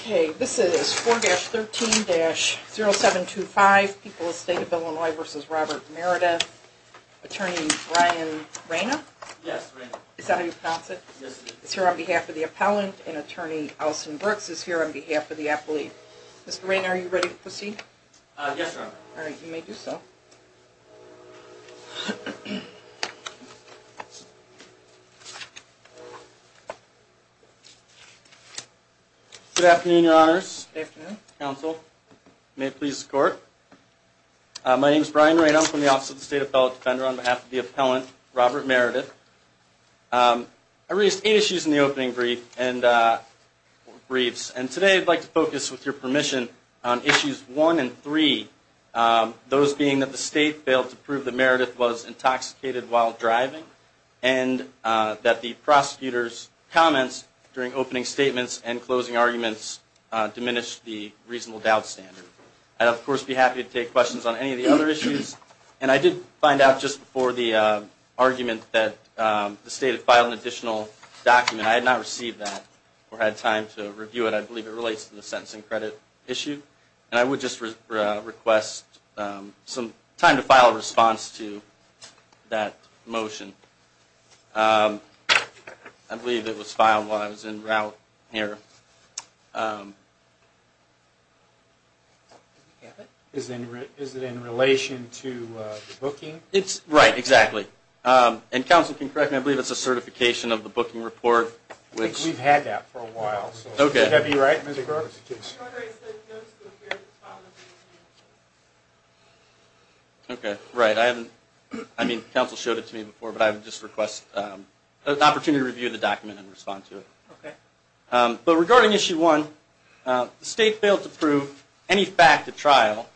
Okay, this is 4-13-0725, People of the State of Illinois v. Robert Meredith, Attorney Brian Reina? Yes, Reina. Is that how you pronounce it? Yes, it is. It's here on behalf of the appellant, and Attorney Alston Brooks is here on behalf of the appellee. Mr. Reina, are you ready to proceed? Yes, Your Honor. Alright, you may do so. Good afternoon, Your Honors. Good afternoon. Counsel, may it please the Court. My name is Brian Reina. I'm from the Office of the State Appellate Defender on behalf of the appellant, Robert Meredith. I raised eight issues in the opening briefs, and today I'd like to focus, with your permission, on Issues 1 and 3, those being that the State failed to prove that Meredith was intoxicated while driving, and that the prosecutor's comments during opening statements and closing arguments diminished the reasonable doubt standard. I'd, of course, be happy to take questions on any of the other issues. And I did find out just before the argument that the State had filed an additional document. I had not received that or had time to review it. I believe it relates to the sentencing credit issue. And I would just request some time to file a response to that motion. I believe it was filed while I was en route here. Is it in relation to the booking? Right, exactly. And Counsel, if you can correct me, I believe it's a certification of the booking report. I think we've had that for a while. Okay. Would that be right, Mr. Groves? Okay, right. I haven't – I mean, Counsel showed it to me before, but I would just request an opportunity to review the document and respond to it. Okay. But regarding Issue 1, the State failed to prove any fact at trial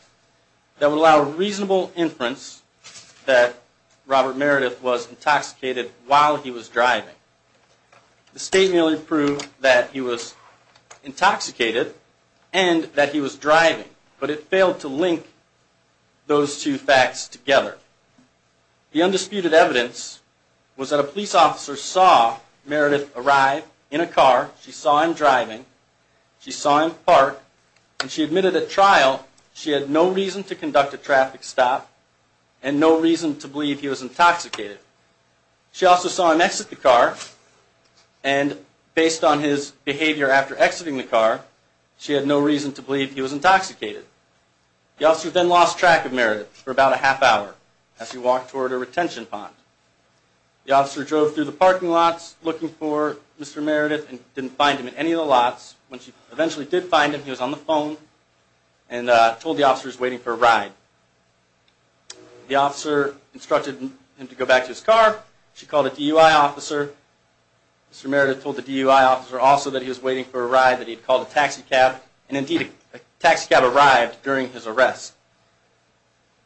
that would allow reasonable inference that Robert Meredith was intoxicated while he was driving. The State merely proved that he was intoxicated and that he was driving, but it failed to link those two facts together. The undisputed evidence was that a police officer saw Meredith arrive in a car. She saw him driving. She saw him park. And she admitted at trial she had no reason to conduct a traffic stop and no reason to believe he was intoxicated. She also saw him exit the car, and based on his behavior after exiting the car, she had no reason to believe he was intoxicated. The officer then lost track of Meredith for about a half hour as he walked toward a retention pond. The officer drove through the parking lots looking for Mr. Meredith and didn't find him in any of the lots. When she eventually did find him, he was on the phone and told the officers he was waiting for a ride. The officer instructed him to go back to his car. She called a DUI officer. Mr. Meredith told the DUI officer also that he was waiting for a ride that he had called a taxi cab. And indeed, a taxi cab arrived during his arrest.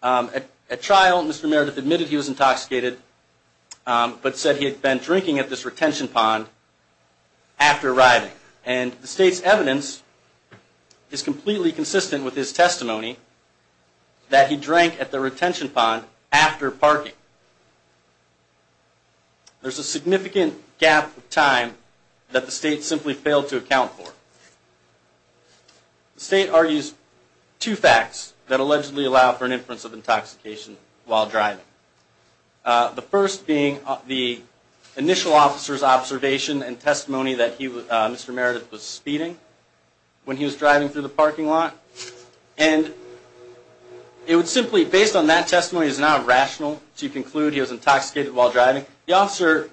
At trial, Mr. Meredith admitted he was intoxicated, but said he had been drinking at this retention pond after arriving. And the state's evidence is completely consistent with his testimony that he drank at the retention pond after parking. There's a significant gap of time that the state simply failed to account for. The state argues two facts that allegedly allow for an inference of intoxication while driving. The first being the initial officer's observation and testimony that Mr. Meredith was speeding when he was driving through the parking lot. And it would simply, based on that testimony, is now rational to conclude he was intoxicated while driving. The officer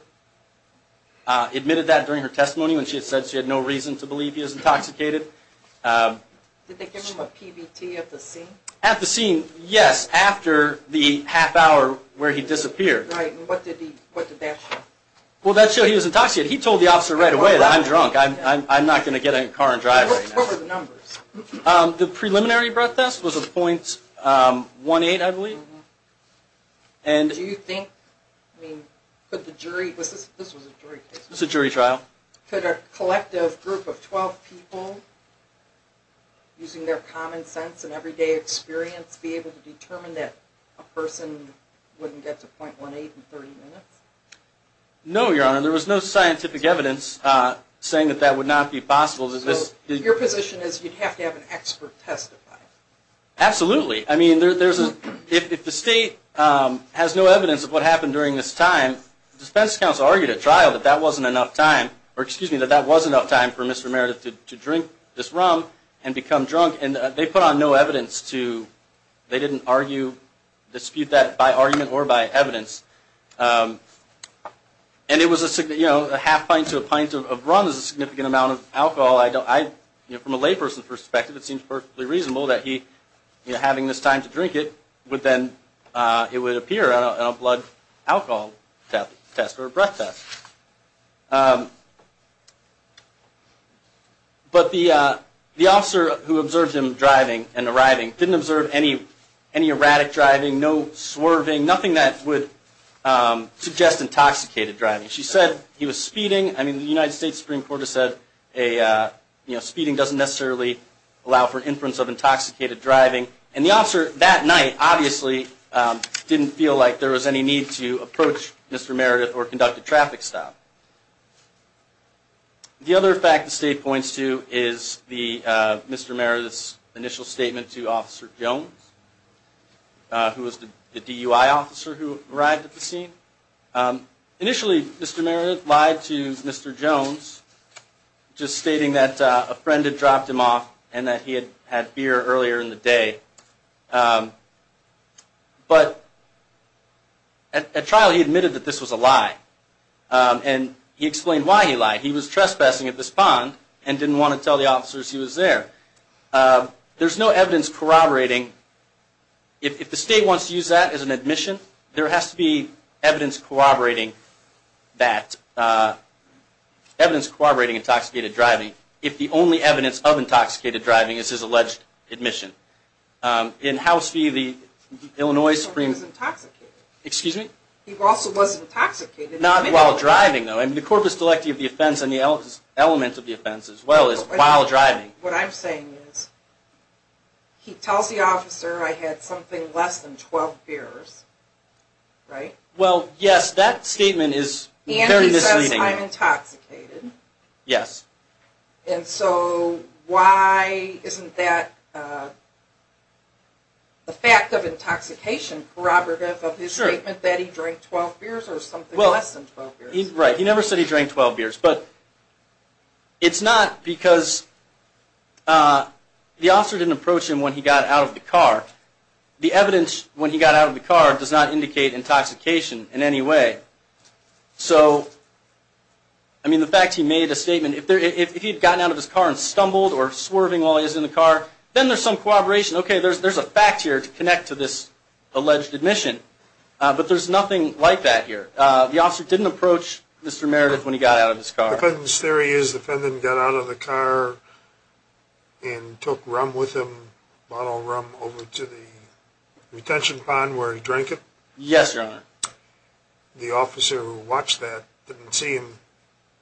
admitted that during her testimony when she had said she had no reason to believe he was intoxicated. Did they give him a PBT at the scene? At the scene, yes, after the half hour where he disappeared. Right, and what did that show? Well, that showed he was intoxicated. He told the officer right away that, I'm drunk, I'm not going to get in a car and drive right now. What were the numbers? The preliminary breath test was a .18, I believe. Do you think, I mean, could the jury, this was a jury case. It was a jury trial. Could a collective group of 12 people, using their common sense and everyday experience, be able to determine that a person wouldn't get to .18 in 30 minutes? No, Your Honor, there was no scientific evidence saying that that would not be possible. So your position is you'd have to have an expert testify? Absolutely. I mean, if the state has no evidence of what happened during this time, the defense counsel argued at trial that that wasn't enough time, or excuse me, that that was enough time for Mr. Meredith to drink this rum and become drunk, and they put on no evidence to, they didn't argue, dispute that by argument or by evidence. And it was a half pint to a pint of rum is a significant amount of alcohol. From a layperson's perspective, it seems perfectly reasonable that he, having this time to drink it, it would appear on a blood alcohol test or a breath test. But the officer who observed him driving and arriving didn't observe any erratic driving, no swerving, nothing that would suggest intoxicated driving. She said he was speeding. I mean, the United States Supreme Court has said speeding doesn't necessarily allow for inference of intoxicated driving. And the officer that night obviously didn't feel like there was any need to approach Mr. Meredith or conduct a traffic stop. The other fact the state points to is Mr. Meredith's initial statement to Officer Jones, who was the DUI officer who arrived at the scene. Initially, Mr. Meredith lied to Mr. Jones, just stating that a friend had dropped him off and that he had had beer earlier in the day. But at trial, he admitted that this was a lie. And he explained why he lied. He was trespassing at this pond and didn't want to tell the officers he was there. There's no evidence corroborating. If the state wants to use that as an admission, there has to be evidence corroborating that, evidence corroborating intoxicated driving. If the only evidence of intoxicated driving is his alleged admission. In House v. the Illinois Supreme Court. He was intoxicated. Excuse me? He also was intoxicated. Not while driving, though. I mean, the corpus delicti of the offense and the element of the offense as well is while driving. What I'm saying is he tells the officer I had something less than 12 beers, right? Well, yes, that statement is very misleading. And he says I'm intoxicated. Yes. And so why isn't that the fact of intoxication corroborative of his statement that he drank 12 beers or something less than 12 beers? Right. He never said he drank 12 beers. But it's not because the officer didn't approach him when he got out of the car. The evidence when he got out of the car does not indicate intoxication in any way. So, I mean, the fact he made a statement, if he had gotten out of his car and stumbled or swerving while he was in the car, then there's some corroboration. Okay, there's a fact here to connect to this alleged admission. But there's nothing like that here. The officer didn't approach Mr. Meredith when he got out of his car. The theory is the defendant got out of the car and took rum with him, a bottle of rum, over to the retention pond where he drank it? Yes, Your Honor. The officer who watched that didn't see him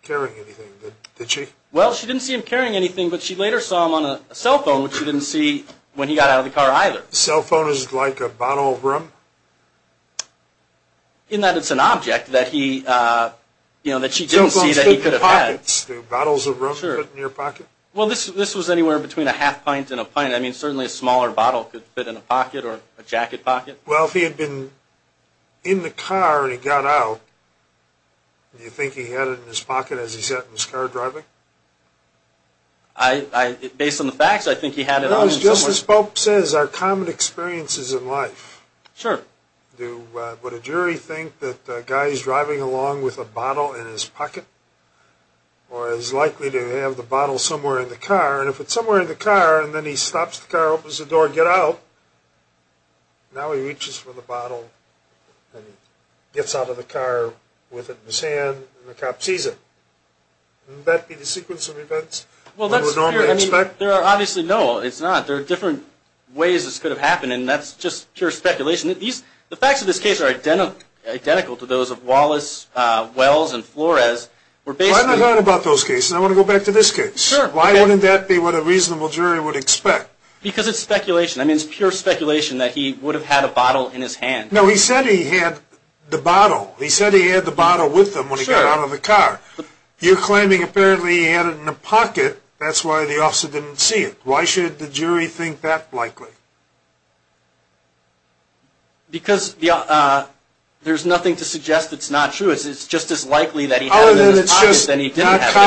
carrying anything, did she? Well, she didn't see him carrying anything, but she later saw him on a cell phone, which she didn't see when he got out of the car either. A cell phone is like a bottle of rum? In that it's an object that he, you know, that she didn't see that he could have had. Cell phones fit in pockets. Do bottles of rum fit in your pocket? Well, this was anywhere between a half pint and a pint. I mean, certainly a smaller bottle could fit in a pocket or a jacket pocket. Well, if he had been in the car when he got out, do you think he had it in his pocket as he sat in his car driving? Based on the facts, I think he had it in his pocket. Just as Spock says, our common experience is in life. Sure. Would a jury think that the guy is driving along with a bottle in his pocket? Or is likely to have the bottle somewhere in the car? And if it's somewhere in the car and then he stops the car, opens the door, gets out, now he reaches for the bottle and gets out of the car with it in his hand and the cop sees it. Wouldn't that be the sequence of events that we normally expect? Well, there are obviously no. It's not. There are different ways this could have happened, and that's just pure speculation. The facts of this case are identical to those of Wallace, Wells, and Flores. Well, I haven't thought about those cases. I want to go back to this case. Sure. Why wouldn't that be what a reasonable jury would expect? Because it's speculation. I mean, it's pure speculation that he would have had a bottle in his hand. No, he said he had the bottle. He said he had the bottle with him when he got out of the car. You're claiming apparently he had it in a pocket. That's why the officer didn't see it. Why should the jury think that likely? Because there's nothing to suggest it's not true. I have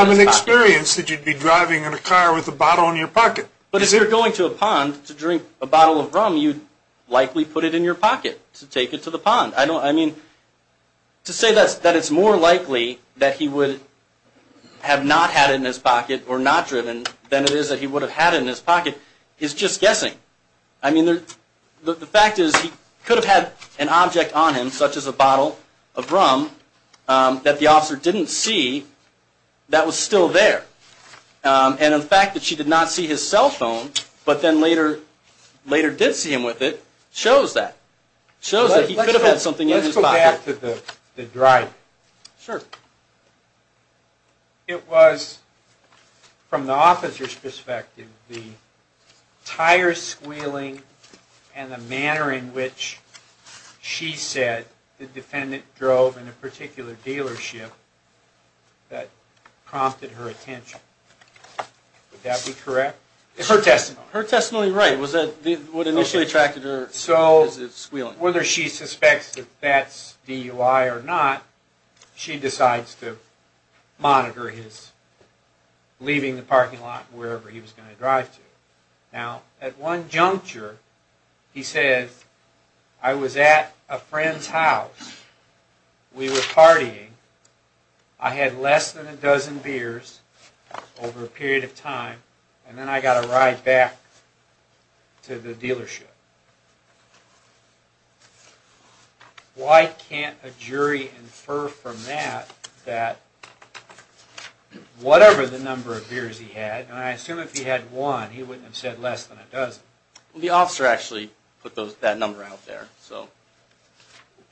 an experience that you'd be driving in a car with a bottle in your pocket. But if you're going to a pond to drink a bottle of rum, you'd likely put it in your pocket to take it to the pond. I mean, to say that it's more likely that he would have not had it in his pocket or not driven than it is that he would have had it in his pocket is just guessing. I mean, the fact is he could have had an object on him, such as a bottle of rum, that the officer didn't see that was still there. And the fact that she did not see his cell phone but then later did see him with it shows that. It shows that he could have had something in his pocket. Let's go back to the driving. It was, from the officer's perspective, the tire squealing and the manner in which she said the defendant drove in a particular dealership that prompted her attention. Would that be correct? It's her testimony. Her testimony, right. Was that what initially attracted her? So, whether she suspects that that's DUI or not, she decides to monitor his leaving the parking lot wherever he was going to drive to. Now, at one juncture, he says, I was at a friend's house. We were partying. I had less than a dozen beers over a period of time, and then I got a ride back to the dealership. Why can't a jury infer from that that whatever the number of beers he had, and I assume if he had one, he wouldn't have said less than a dozen. The officer actually put that number out there.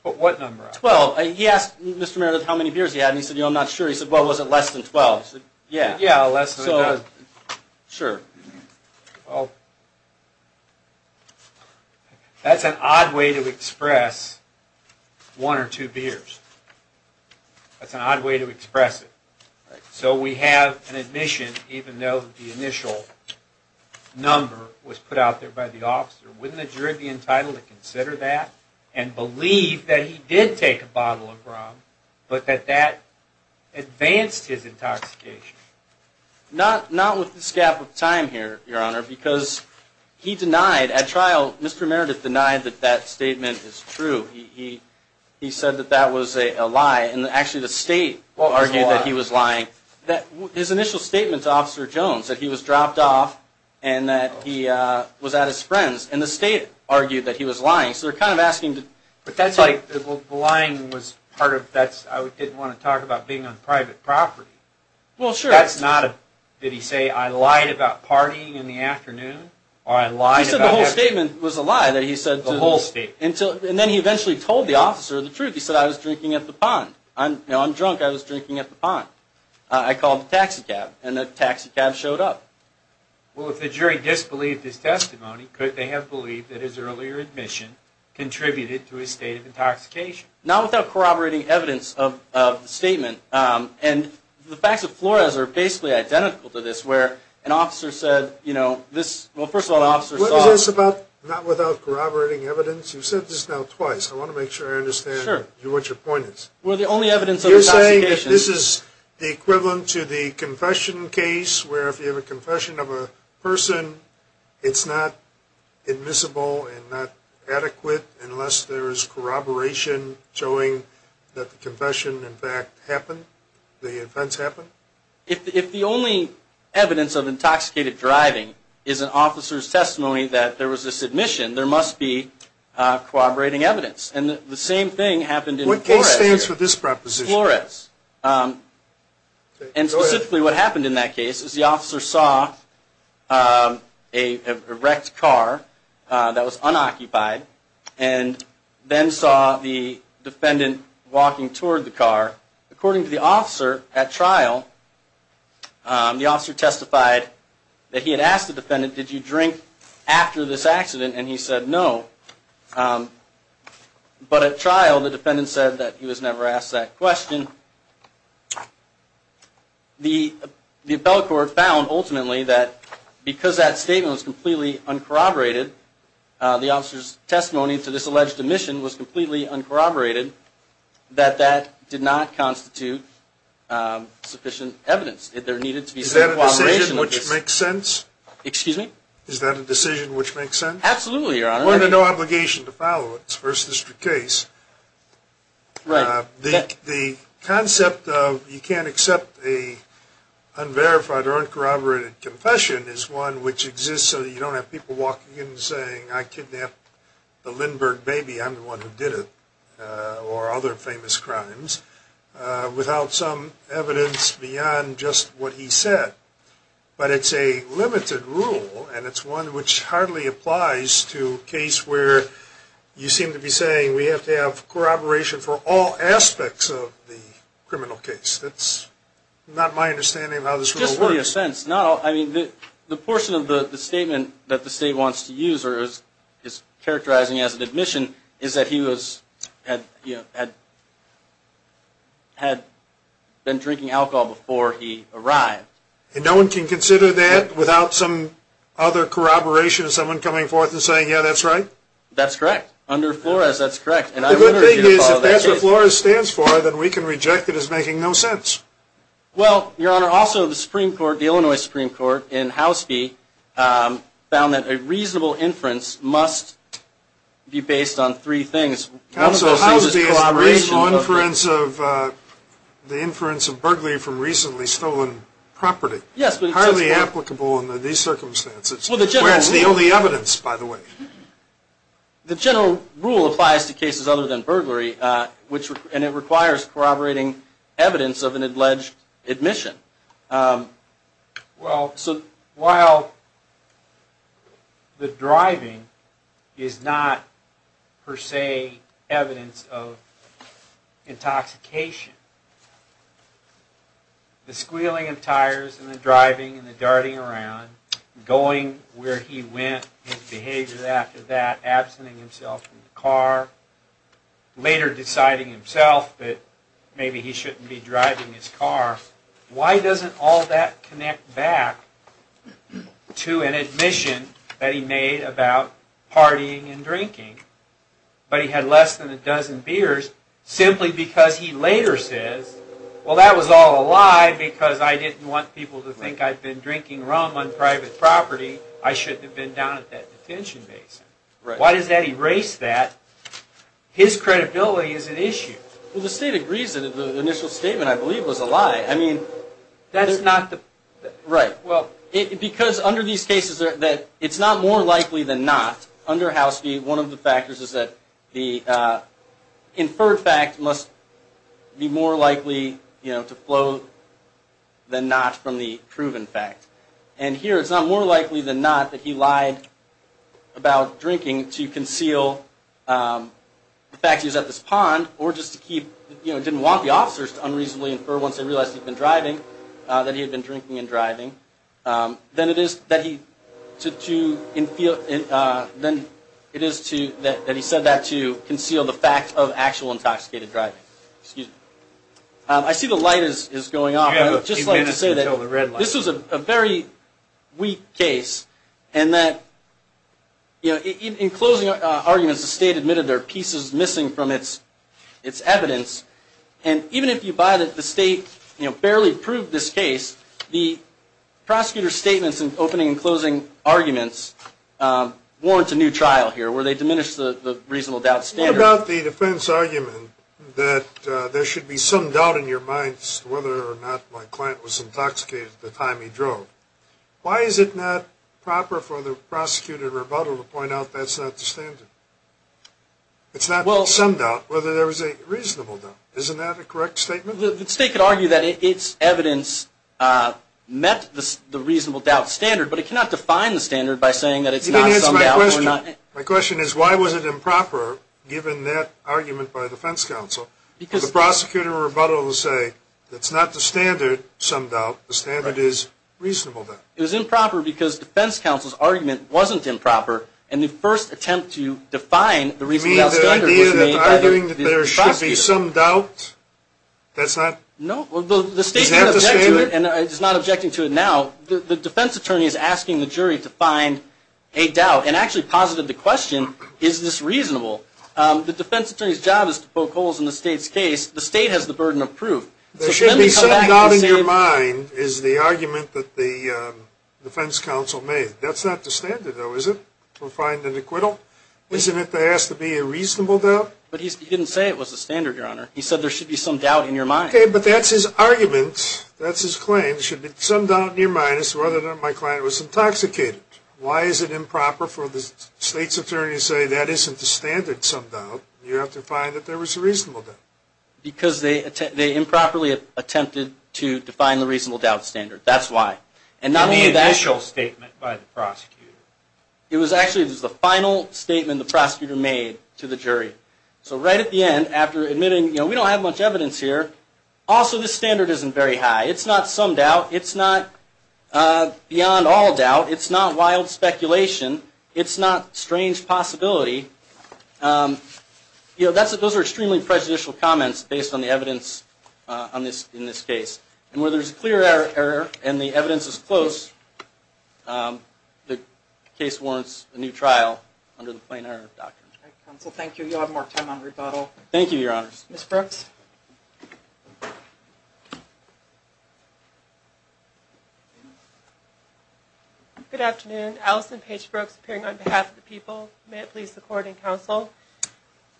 What number? Twelve. He asked Mr. Meredith how many beers he had, and he said, you know, I'm not sure. He said, well, was it less than twelve? Yeah, less than a dozen. Sure. Well, that's an odd way to express one or two beers. That's an odd way to express it. So, we have an admission, even though the initial number was put out there by the officer. Wouldn't the jury be entitled to consider that and believe that he did take a bottle of rum, but that that advanced his intoxication? Not with this gap of time here, Your Honor, because he denied at trial, Mr. Meredith denied that that statement is true. He said that that was a lie, and actually the state argued that he was lying. His initial statement to Officer Jones, that he was dropped off, and that he was at his friend's, and the state argued that he was lying. So, they're kind of asking. But that's like, well, the lying was part of that. I didn't want to talk about being on private property. Well, sure. Did he say, I lied about partying in the afternoon? He said the whole statement was a lie. The whole statement. And then he eventually told the officer the truth. He said, I was drinking at the pond. Now, I'm drunk, I was drinking at the pond. I called the taxi cab, and the taxi cab showed up. Well, if the jury disbelieved his testimony, could they have believed that his earlier admission contributed to his state of intoxication? Not without corroborating evidence of the statement. And the facts of Flores are basically identical to this, where an officer said, you know, this. Well, first of all, an officer saw. What is this about not without corroborating evidence? You've said this now twice. I want to make sure I understand what your point is. We're the only evidence of intoxication. You're saying that this is equivalent to the confession case, where if you have a confession of a person, it's not admissible and not adequate unless there is corroboration showing that the confession, in fact, happened, the offense happened? If the only evidence of intoxicated driving is an officer's testimony that there was this admission, there must be corroborating evidence. And the same thing happened in Flores. What case stands for this proposition? Flores. And specifically what happened in that case is the officer saw a wrecked car that was unoccupied and then saw the defendant walking toward the car. According to the officer at trial, the officer testified that he had asked the defendant, did you drink after this accident? And he said no. But at trial, the defendant said that he was never asked that question. The appellate court found, ultimately, that because that statement was completely uncorroborated, the officer's testimony to this alleged admission was completely uncorroborated, that that did not constitute sufficient evidence. Is that a decision which makes sense? Is that a decision which makes sense? Absolutely, Your Honor. We're under no obligation to follow it. It's a First District case. Right. The concept of you can't accept an unverified or uncorroborated confession is one which exists so that you don't have people walking in and saying, I kidnapped the Lindbergh baby, I'm the one who did it, or other famous crimes, without some evidence beyond just what he said. But it's a limited rule, and it's one which hardly applies to a case where you seem to be saying we have to have corroboration for all aspects of the criminal case. That's not my understanding of how this rule works. Just for your sense, the portion of the statement that the State wants to use or is characterizing as an admission is that he had been drinking alcohol before he arrived. And no one can consider that without some other corroboration, someone coming forth and saying, yeah, that's right? That's correct. Under Flores, that's correct. The good thing is if that's what Flores stands for, then we can reject it as making no sense. Well, Your Honor, also the Supreme Court, the Illinois Supreme Court, in House v. found that a reasonable inference must be based on three things. The inference of burglary from recently stolen property. Yes. Highly applicable under these circumstances, where it's the only evidence, by the way. The general rule applies to cases other than burglary, and it requires corroborating evidence of an alleged admission. Well, so while the driving is not per se evidence of intoxication, the squealing of tires and the driving and the darting around, going where he went, his behavior after that, absenting himself from the car, later deciding himself that maybe he shouldn't be driving his car, why doesn't all that connect back to an admission that he made about partying and drinking, but he had less than a dozen beers, simply because he later says, well, that was all a lie because I didn't want people to think I'd been drinking rum on private property. I shouldn't have been down at that detention base. Why does that erase that? His credibility is at issue. Well, the State agrees that the initial statement, I believe, was a lie. Right. Well, because under these cases it's not more likely than not, under House v. One of the factors is that the inferred fact must be more likely to flow than not from the proven fact. And here it's not more likely than not that he lied about drinking to unreasonably infer once they realized he'd been driving, that he had been drinking and driving, than it is that he said that to conceal the fact of actual intoxicated driving. Excuse me. I see the light is going off. I'd just like to say that this was a very weak case, and that in closing arguments the State admitted there are pieces missing from its evidence. And even if you buy that the State barely proved this case, the prosecutor's statements in opening and closing arguments warrant a new trial here where they diminish the reasonable doubt standard. What about the defense argument that there should be some doubt in your minds whether or not my client was intoxicated at the time he drove? Why is it not proper for the prosecutor to point out that's not the standard? It's not the summed up whether there was a reasonable doubt. Isn't that a correct statement? The State could argue that its evidence met the reasonable doubt standard, but it cannot define the standard by saying that it's not summed up. My question is why was it improper, given that argument by the defense counsel, for the prosecutor or rebuttal to say that's not the standard summed up, the standard is reasonable doubt? It was improper because defense counsel's argument wasn't improper, and the first attempt to define the reasonable doubt standard was made by the prosecutor. You mean the idea that arguing that there should be some doubt, that's not the standard? No, the State is not objecting to it now. The defense attorney is asking the jury to find a doubt and actually posited the question, is this reasonable? The defense attorney's job is to poke holes in the State's case. The State has the burden of proof. There should be some doubt in your mind is the argument that the defense counsel made. That's not the standard, though, is it, to find an acquittal? Isn't it that there has to be a reasonable doubt? But he didn't say it was the standard, Your Honor. He said there should be some doubt in your mind. Okay, but that's his argument. That's his claim. There should be some doubt in your mind as to whether or not my client was intoxicated. Why is it improper for the State's attorney to say that isn't the standard summed up? You have to find that there was a reasonable doubt. Because they improperly attempted to define the reasonable doubt standard. That's why. And the initial statement by the prosecutor. It was actually the final statement the prosecutor made to the jury. So right at the end, after admitting, you know, we don't have much evidence here. Also, the standard isn't very high. It's not summed out. It's not beyond all doubt. It's not wild speculation. It's not strange possibility. You know, those are extremely prejudicial comments based on the evidence in this case. And where there's clear error and the evidence is close, the case warrants a new trial under the plain error doctrine. All right, counsel. Thank you. You'll have more time on rebuttal. Thank you, your honors. Ms. Brooks. Good afternoon. Allison Paige Brooks appearing on behalf of the people. May it please the court and counsel.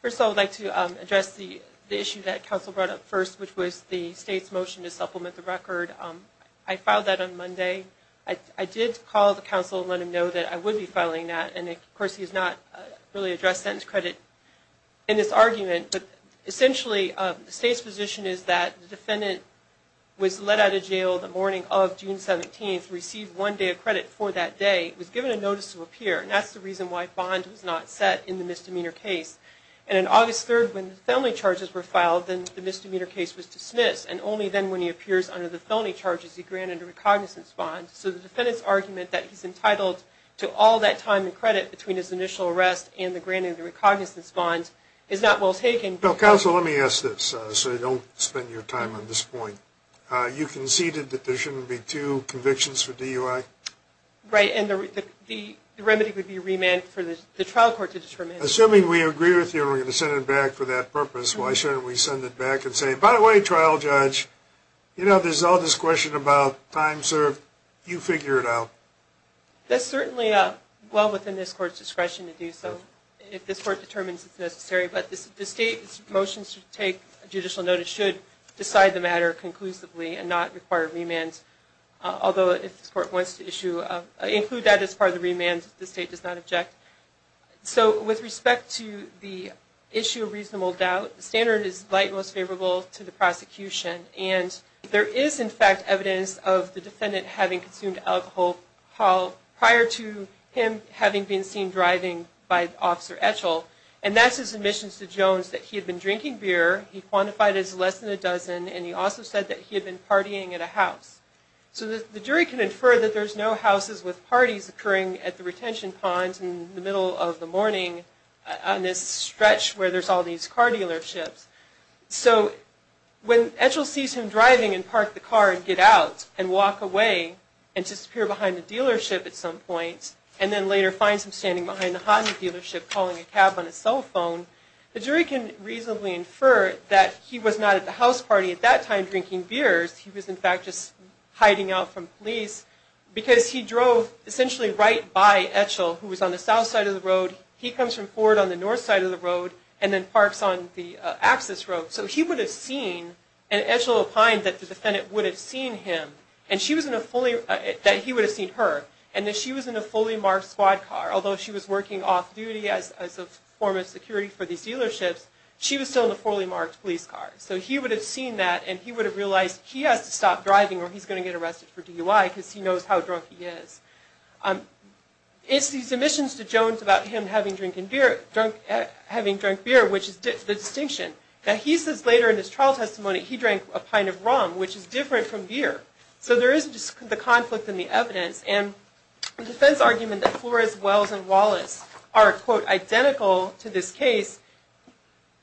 First of all, I would like to address the issue that counsel brought up first, which was the state's motion to supplement the record. I filed that on Monday. I did call the counsel and let him know that I would be filing that. And, of course, he has not really addressed sentence credit in this argument. But essentially the state's position is that the defendant was let out of jail the morning of June 17th, received one day of credit for that day, was given a notice to appear. And that's the reason why bond was not set in the misdemeanor case. And on August 3rd, when the felony charges were filed, then the misdemeanor case was dismissed. And only then, when he appears under the felony charges, he granted a recognizance bond. So the defendant's argument that he's entitled to all that time and credit between his initial arrest and the granting of the recognizance bond is not well taken. Counsel, let me ask this so you don't spend your time on this point. You conceded that there shouldn't be two convictions for DUI? Right. And the remedy would be remand for the trial court to determine. Assuming we agree with you and we're going to send it back for that purpose, why shouldn't we send it back and say, by the way, trial judge, there's all this question about time served. You figure it out. That's certainly well within this court's discretion to do so if this court determines it's necessary. But the state's motions to take judicial notice should decide the matter conclusively and not require remand, although if this court wants to include that as part of the remand, the state does not object. So with respect to the issue of reasonable doubt, the standard is light and most favorable to the prosecution. And there is, in fact, evidence of the defendant having consumed alcohol prior to him having been seen driving by Officer Etchell, and that's his admissions to Jones that he had been drinking beer, he quantified as less than a dozen, and he also said that he had been partying at a house. So the jury can infer that there's no houses with parties occurring at the middle of the morning on this stretch where there's all these car dealerships. So when Etchell sees him driving and park the car and get out and walk away and disappear behind the dealership at some point, and then later finds him standing behind the Honda dealership calling a cab on his cell phone, the jury can reasonably infer that he was not at the house party at that time drinking beers. He was, in fact, just hiding out from police because he drove essentially right by Etchell who was on the south side of the road. He comes from Ford on the north side of the road and then parks on the access road. So he would have seen, and Etchell opined that the defendant would have seen him, that he would have seen her, and that she was in a fully marked squad car. Although she was working off-duty as a form of security for these dealerships, she was still in a fully marked police car. So he would have seen that and he would have realized he has to stop driving or he's going to get arrested for DUI because he knows how drunk he is. It's these admissions to Jones about him having drunk beer, which is the distinction. Now he says later in his trial testimony he drank a pint of rum, which is different from beer. So there is the conflict in the evidence, and the defense argument that Flores, Wells, and Wallace are, quote, identical to this case,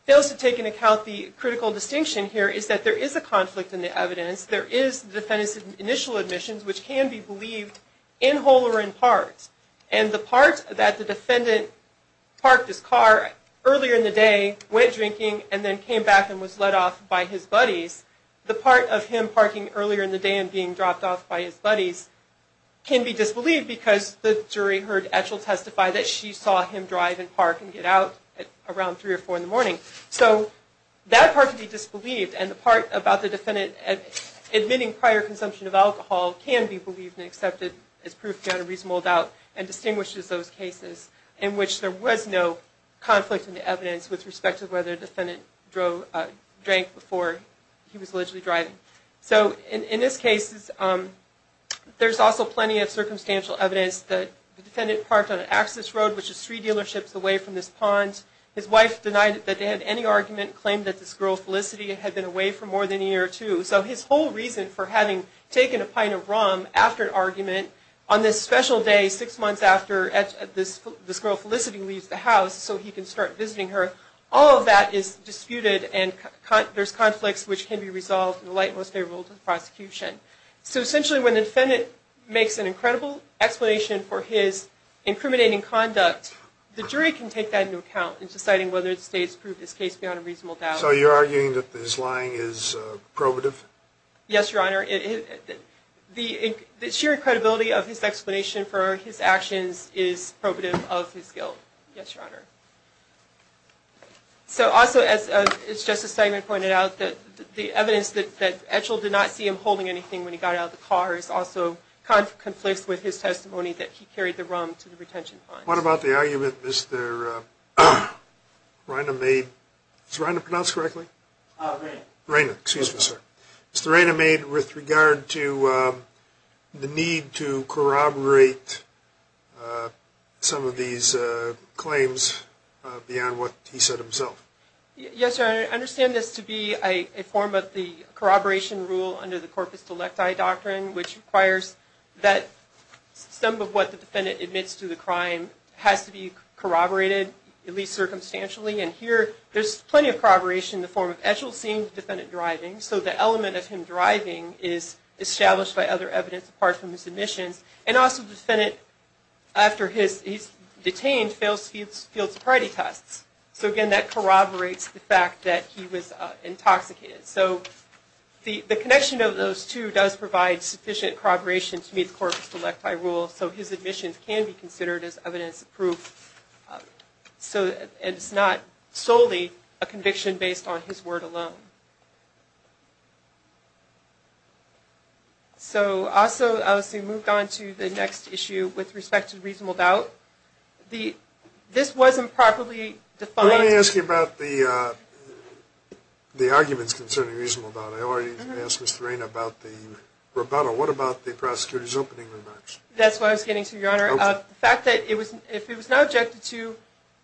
fails to take into account the critical distinction here is that there is a conflict in the evidence. There is the defendant's initial admissions, which can be believed in whole or in part. And the part that the defendant parked his car earlier in the day, went drinking, and then came back and was let off by his buddies, the part of him parking earlier in the day and being dropped off by his buddies can be disbelieved because the jury heard Etchell testify that she was drinking. So that part can be disbelieved, and the part about the defendant admitting prior consumption of alcohol can be believed and accepted as proof beyond a reasonable doubt and distinguishes those cases in which there was no conflict in the evidence with respect to whether the defendant drank before he was allegedly driving. So in this case, there's also plenty of circumstantial evidence that the defendant parked on an access road, which is three dealerships away from this pond. His wife denied that they had any argument, claimed that this girl Felicity had been away for more than a year or two. So his whole reason for having taken a pint of rum after an argument on this special day, six months after this girl Felicity leaves the house so he can start visiting her, all of that is disputed and there's conflicts which can be resolved in the light most favorable to the prosecution. So essentially when the defendant makes an incredible explanation for his incriminating conduct, the jury can take that into account in deciding whether the state has proved this case beyond a reasonable doubt. So you're arguing that his lying is probative? Yes, Your Honor. The sheer credibility of his explanation for his actions is probative of his guilt. Yes, Your Honor. So also as Justice Seidman pointed out, the evidence that Edgell did not see him holding anything when he got out of the car is also conflicts with his testimony that he carried the rum to the detention fund. What about the argument Mr. Reina made, is Reina pronounced correctly? Reina. Reina, excuse me, sir. Mr. Reina made with regard to the need to corroborate some of these claims beyond what he said himself. Yes, Your Honor. I understand this to be a form of the corroboration rule under the corpus crime has to be corroborated, at least circumstantially. And here, there's plenty of corroboration in the form of Edgell seeing the defendant driving. So the element of him driving is established by other evidence apart from his admissions. And also, the defendant, after he's detained, fails to field sobriety tests. So again, that corroborates the fact that he was intoxicated. So the connection of those two does provide sufficient corroboration to meet the corpus electi rule. So his admissions can be considered as evidence of proof. So it's not solely a conviction based on his word alone. So also, as we move on to the next issue with respect to reasonable doubt, this wasn't properly defined. I want to ask you about the arguments concerning reasonable doubt. I already asked Mr. Reina about the rebuttal. What about the prosecutor's opening remarks? That's what I was getting to, Your Honor. The fact that if it was not objected to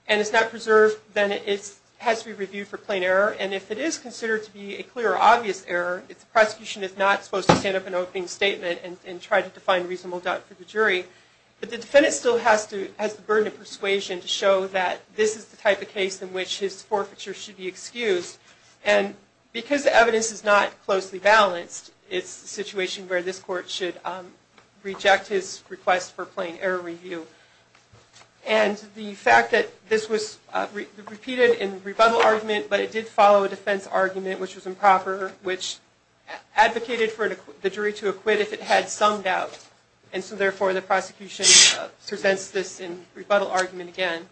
and it's not preserved, then it has to be reviewed for plain error. And if it is considered to be a clear or obvious error, the prosecution is not supposed to stand up an opening statement and try to define reasonable doubt for the jury. But the defendant still has the burden of persuasion to show that this is the type of case in which his forfeiture should be excused. And because the evidence is not closely balanced, it's a situation where this court should reject his request for plain error review. And the fact that this was repeated in rebuttal argument, but it did follow a defense argument which was improper, which advocated for the jury to acquit if it had some doubt. And so therefore, the prosecution presents this in rebuttal argument again.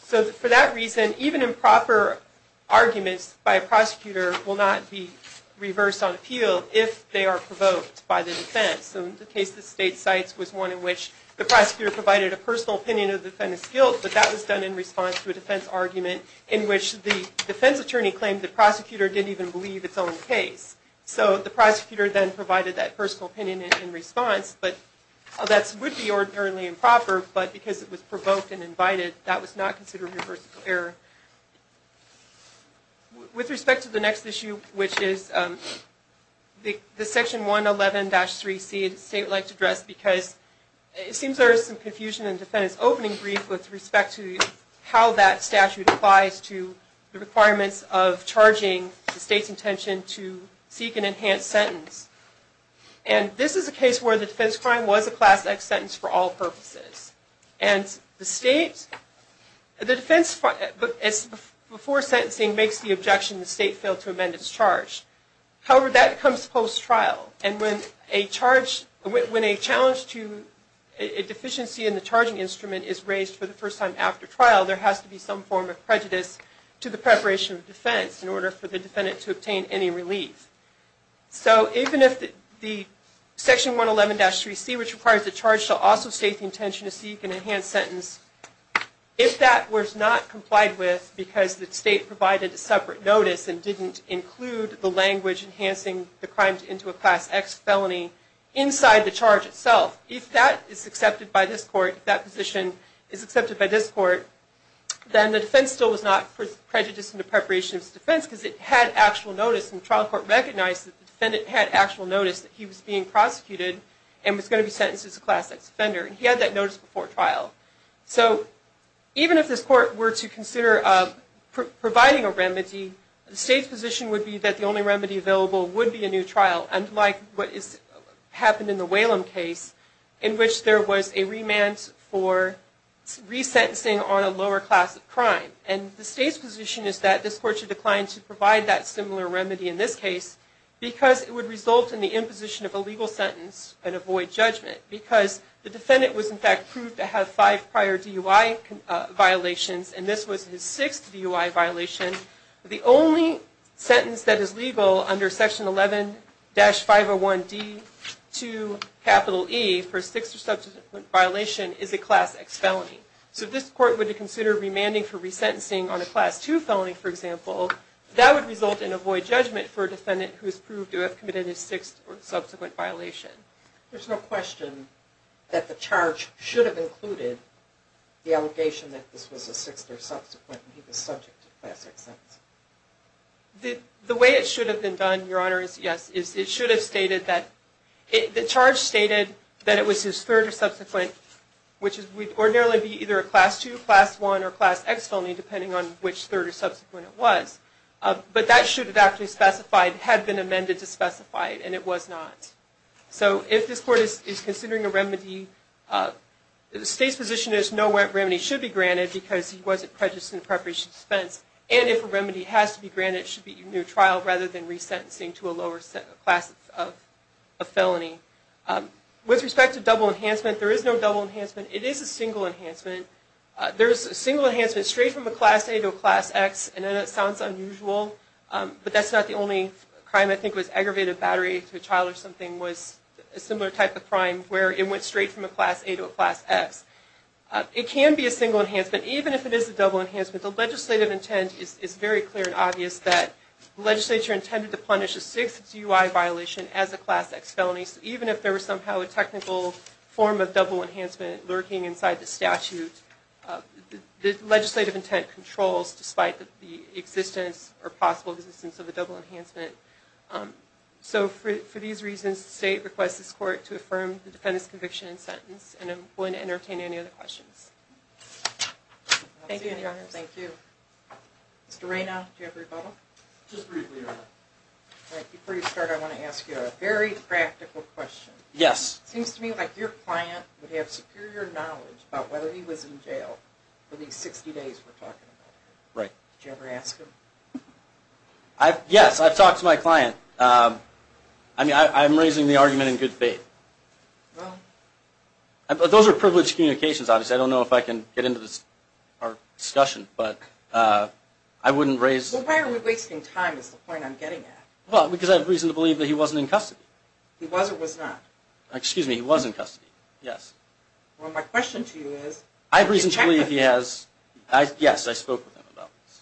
So for that reason, even improper arguments by a prosecutor will not be reversed on appeal if they are provoked by the defense. So in the case the State cites was one in which the prosecutor provided a personal opinion of the defendant's guilt, but that was done in response to a defense argument in which the defense attorney claimed the prosecutor didn't even believe its own case. So the prosecutor then provided that personal opinion in response, but that would be ordinarily improper, but because it was provoked and invited, that was not considered reversible error. With respect to the next issue, which is the Section 111-3C the State would like to address, because it seems there is some confusion in the defendant's opening brief with respect to how that statute applies to the requirements of charging the State's intention to seek an enhanced sentence. And this is a case where the defense crime was a Class X sentence for all purposes. And the State, the defense before sentencing makes the objection the State failed to amend its charge. However, that comes post-trial, and when a charge, when a challenge to a deficiency in the charging instrument is raised for the first time after trial, there has to be some form of prejudice to the preparation of defense in order for the defendant to obtain any relief. So even if the Section 111-3C, which requires the charge, shall also state the intention to seek an enhanced sentence, if that was not complied with because the State provided a separate notice and didn't include the language enhancing the crimes into a Class X felony inside the charge itself, if that is accepted by this court, if that position is accepted by this court, then the defense still was not prejudiced in the preparation of its defense because it had actual notice, and the trial court recognized that the defendant had actual notice that he was being prosecuted and was going to be sentenced as a Class X offender. He had that notice before trial. So even if this court were to consider providing a remedy, the State's position would be that the only remedy available would be a new trial, unlike what happened in the Whalum case, in which there was a remand for resentencing on a lower class crime. And the State's position is that this court should decline to provide that similar remedy in this case because it would result in the imposition of a legal sentence and avoid judgment because the defendant was, in fact, proved to have five prior DUI violations, and this was his sixth DUI violation. The only sentence that is legal under Section 11-501D2E for a sixth or subsequent violation is a Class X felony. So if this court were to consider remanding for resentencing on a Class II felony, for example, that would result in avoid judgment for a defendant who is There's no question that the charge should have included the allegation that this was a sixth or subsequent and he was subject to Class X sentencing. The way it should have been done, Your Honor, is yes. It should have stated that the charge stated that it was his third or subsequent, which would ordinarily be either a Class II, Class I, or Class X felony, depending on which third or subsequent it was. But that should have actually specified, had been amended to specify it, that it was not. So if this court is considering a remedy, the State's position is no remedy should be granted because he wasn't prejudiced in preparation for defense. And if a remedy has to be granted, it should be a new trial rather than resentencing to a lower class of felony. With respect to double enhancement, there is no double enhancement. It is a single enhancement. There is a single enhancement straight from a Class A to a Class X, and I know that sounds unusual, but that's not the only crime. I think it was aggravated battery to a child or something was a similar type of crime where it went straight from a Class A to a Class X. It can be a single enhancement, even if it is a double enhancement. The legislative intent is very clear and obvious that the legislature intended to punish a sixth DUI violation as a Class X felony. So even if there was somehow a technical form of double enhancement lurking inside the statute, the legislative intent controls, despite the existence or possible existence of a double enhancement. So for these reasons, the State requests this Court to affirm the defendant's conviction and sentence, and I'm willing to entertain any other questions. Thank you. Thank you. Mr. Rayna, do you have a rebuttal? Just briefly, Your Honor. Before you start, I want to ask you a very practical question. Yes. It seems to me like your client would have superior knowledge about whether he was in jail for these 60 days we're talking about. Right. Did you ever ask him? Yes, I've talked to my client. I mean, I'm raising the argument in good faith. Well. Those are privileged communications, obviously. I don't know if I can get into our discussion, but I wouldn't raise Well, why are we wasting time is the point I'm getting at. Well, because I have reason to believe that he wasn't in custody. He was or was not? Excuse me, he was in custody, yes. Well, my question to you is, did you check with him? Yes, I spoke with him about this.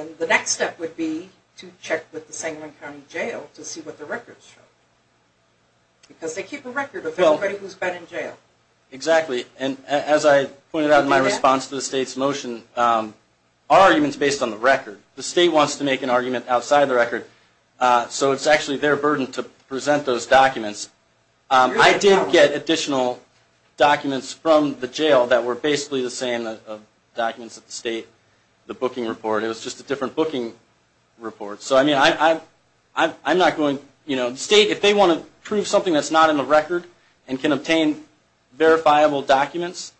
And the next step would be to check with the Sangamon County Jail to see what the records show. Because they keep a record of everybody who's been in jail. Exactly. And as I pointed out in my response to the State's motion, our argument is based on the record. The State wants to make an argument outside the record, so it's actually their burden to present those documents. I did get additional documents from the jail that were basically the same of documents that the State, the booking report. It was just a different booking report. So, I mean, I'm not going, you know, the State, if they want to prove something that's not in the record and can obtain verifiable documents,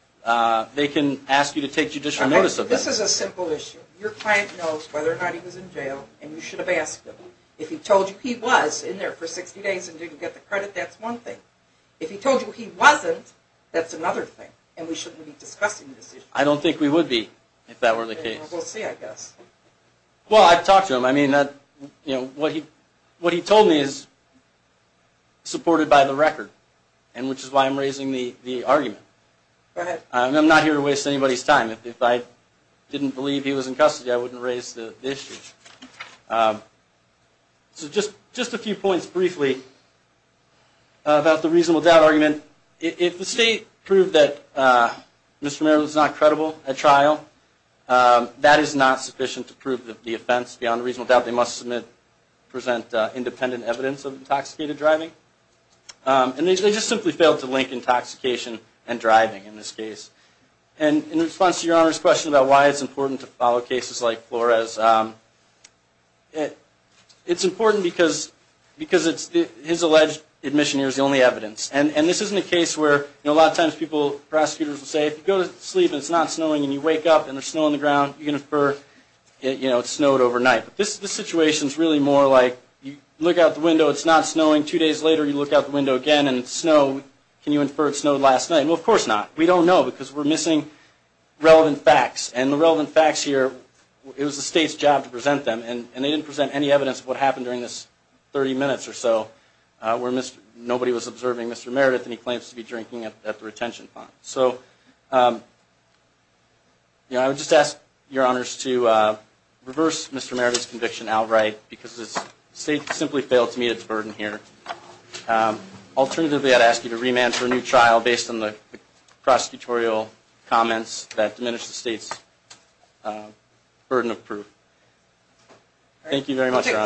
they can ask you to take judicial notice of that. This is a simple issue. Your client knows whether or not he was in jail, and you should have asked him. If he told you he was in there for 60 days and didn't get the credit, that's one thing. If he told you he wasn't, that's another thing, and we shouldn't be discussing this issue. I don't think we would be if that were the case. We'll see, I guess. Well, I've talked to him. I mean, what he told me is supported by the record, which is why I'm raising the argument. I'm not here to waste anybody's time. If I didn't believe he was in custody, I wouldn't raise the issue. So just a few points briefly about the reasonable doubt argument. If the State proved that Mr. Romero was not credible at trial, that is not sufficient to prove the offense beyond reasonable doubt. They must present independent evidence of intoxicated driving, and they just simply failed to link intoxication and driving in this case. And in response to Your Honor's question about why it's important to follow cases like Flores, it's important because his alleged admission here is the only evidence. And this isn't a case where a lot of times prosecutors will say, if you go to sleep and it's not snowing and you wake up and there's snow on the ground, you can infer it snowed overnight. But this situation is really more like you look out the window, it's not snowing, two days later you look out the window again and it's snow. Can you infer it snowed last night? Well, of course not. We don't know because we're missing relevant facts, and the relevant facts here, it was the State's job to present them, and they didn't present any evidence of what happened during this 30 minutes or so where nobody was observing Mr. Meredith and he claims to be drinking at the retention pond. So I would just ask Your Honors to reverse Mr. Meredith's conviction outright because the State simply failed to meet its burden here. Alternatively, I'd ask you to remand for a new trial based on the prosecutorial comments that diminish the State's burden of proof. Thank you very much, Your Honors.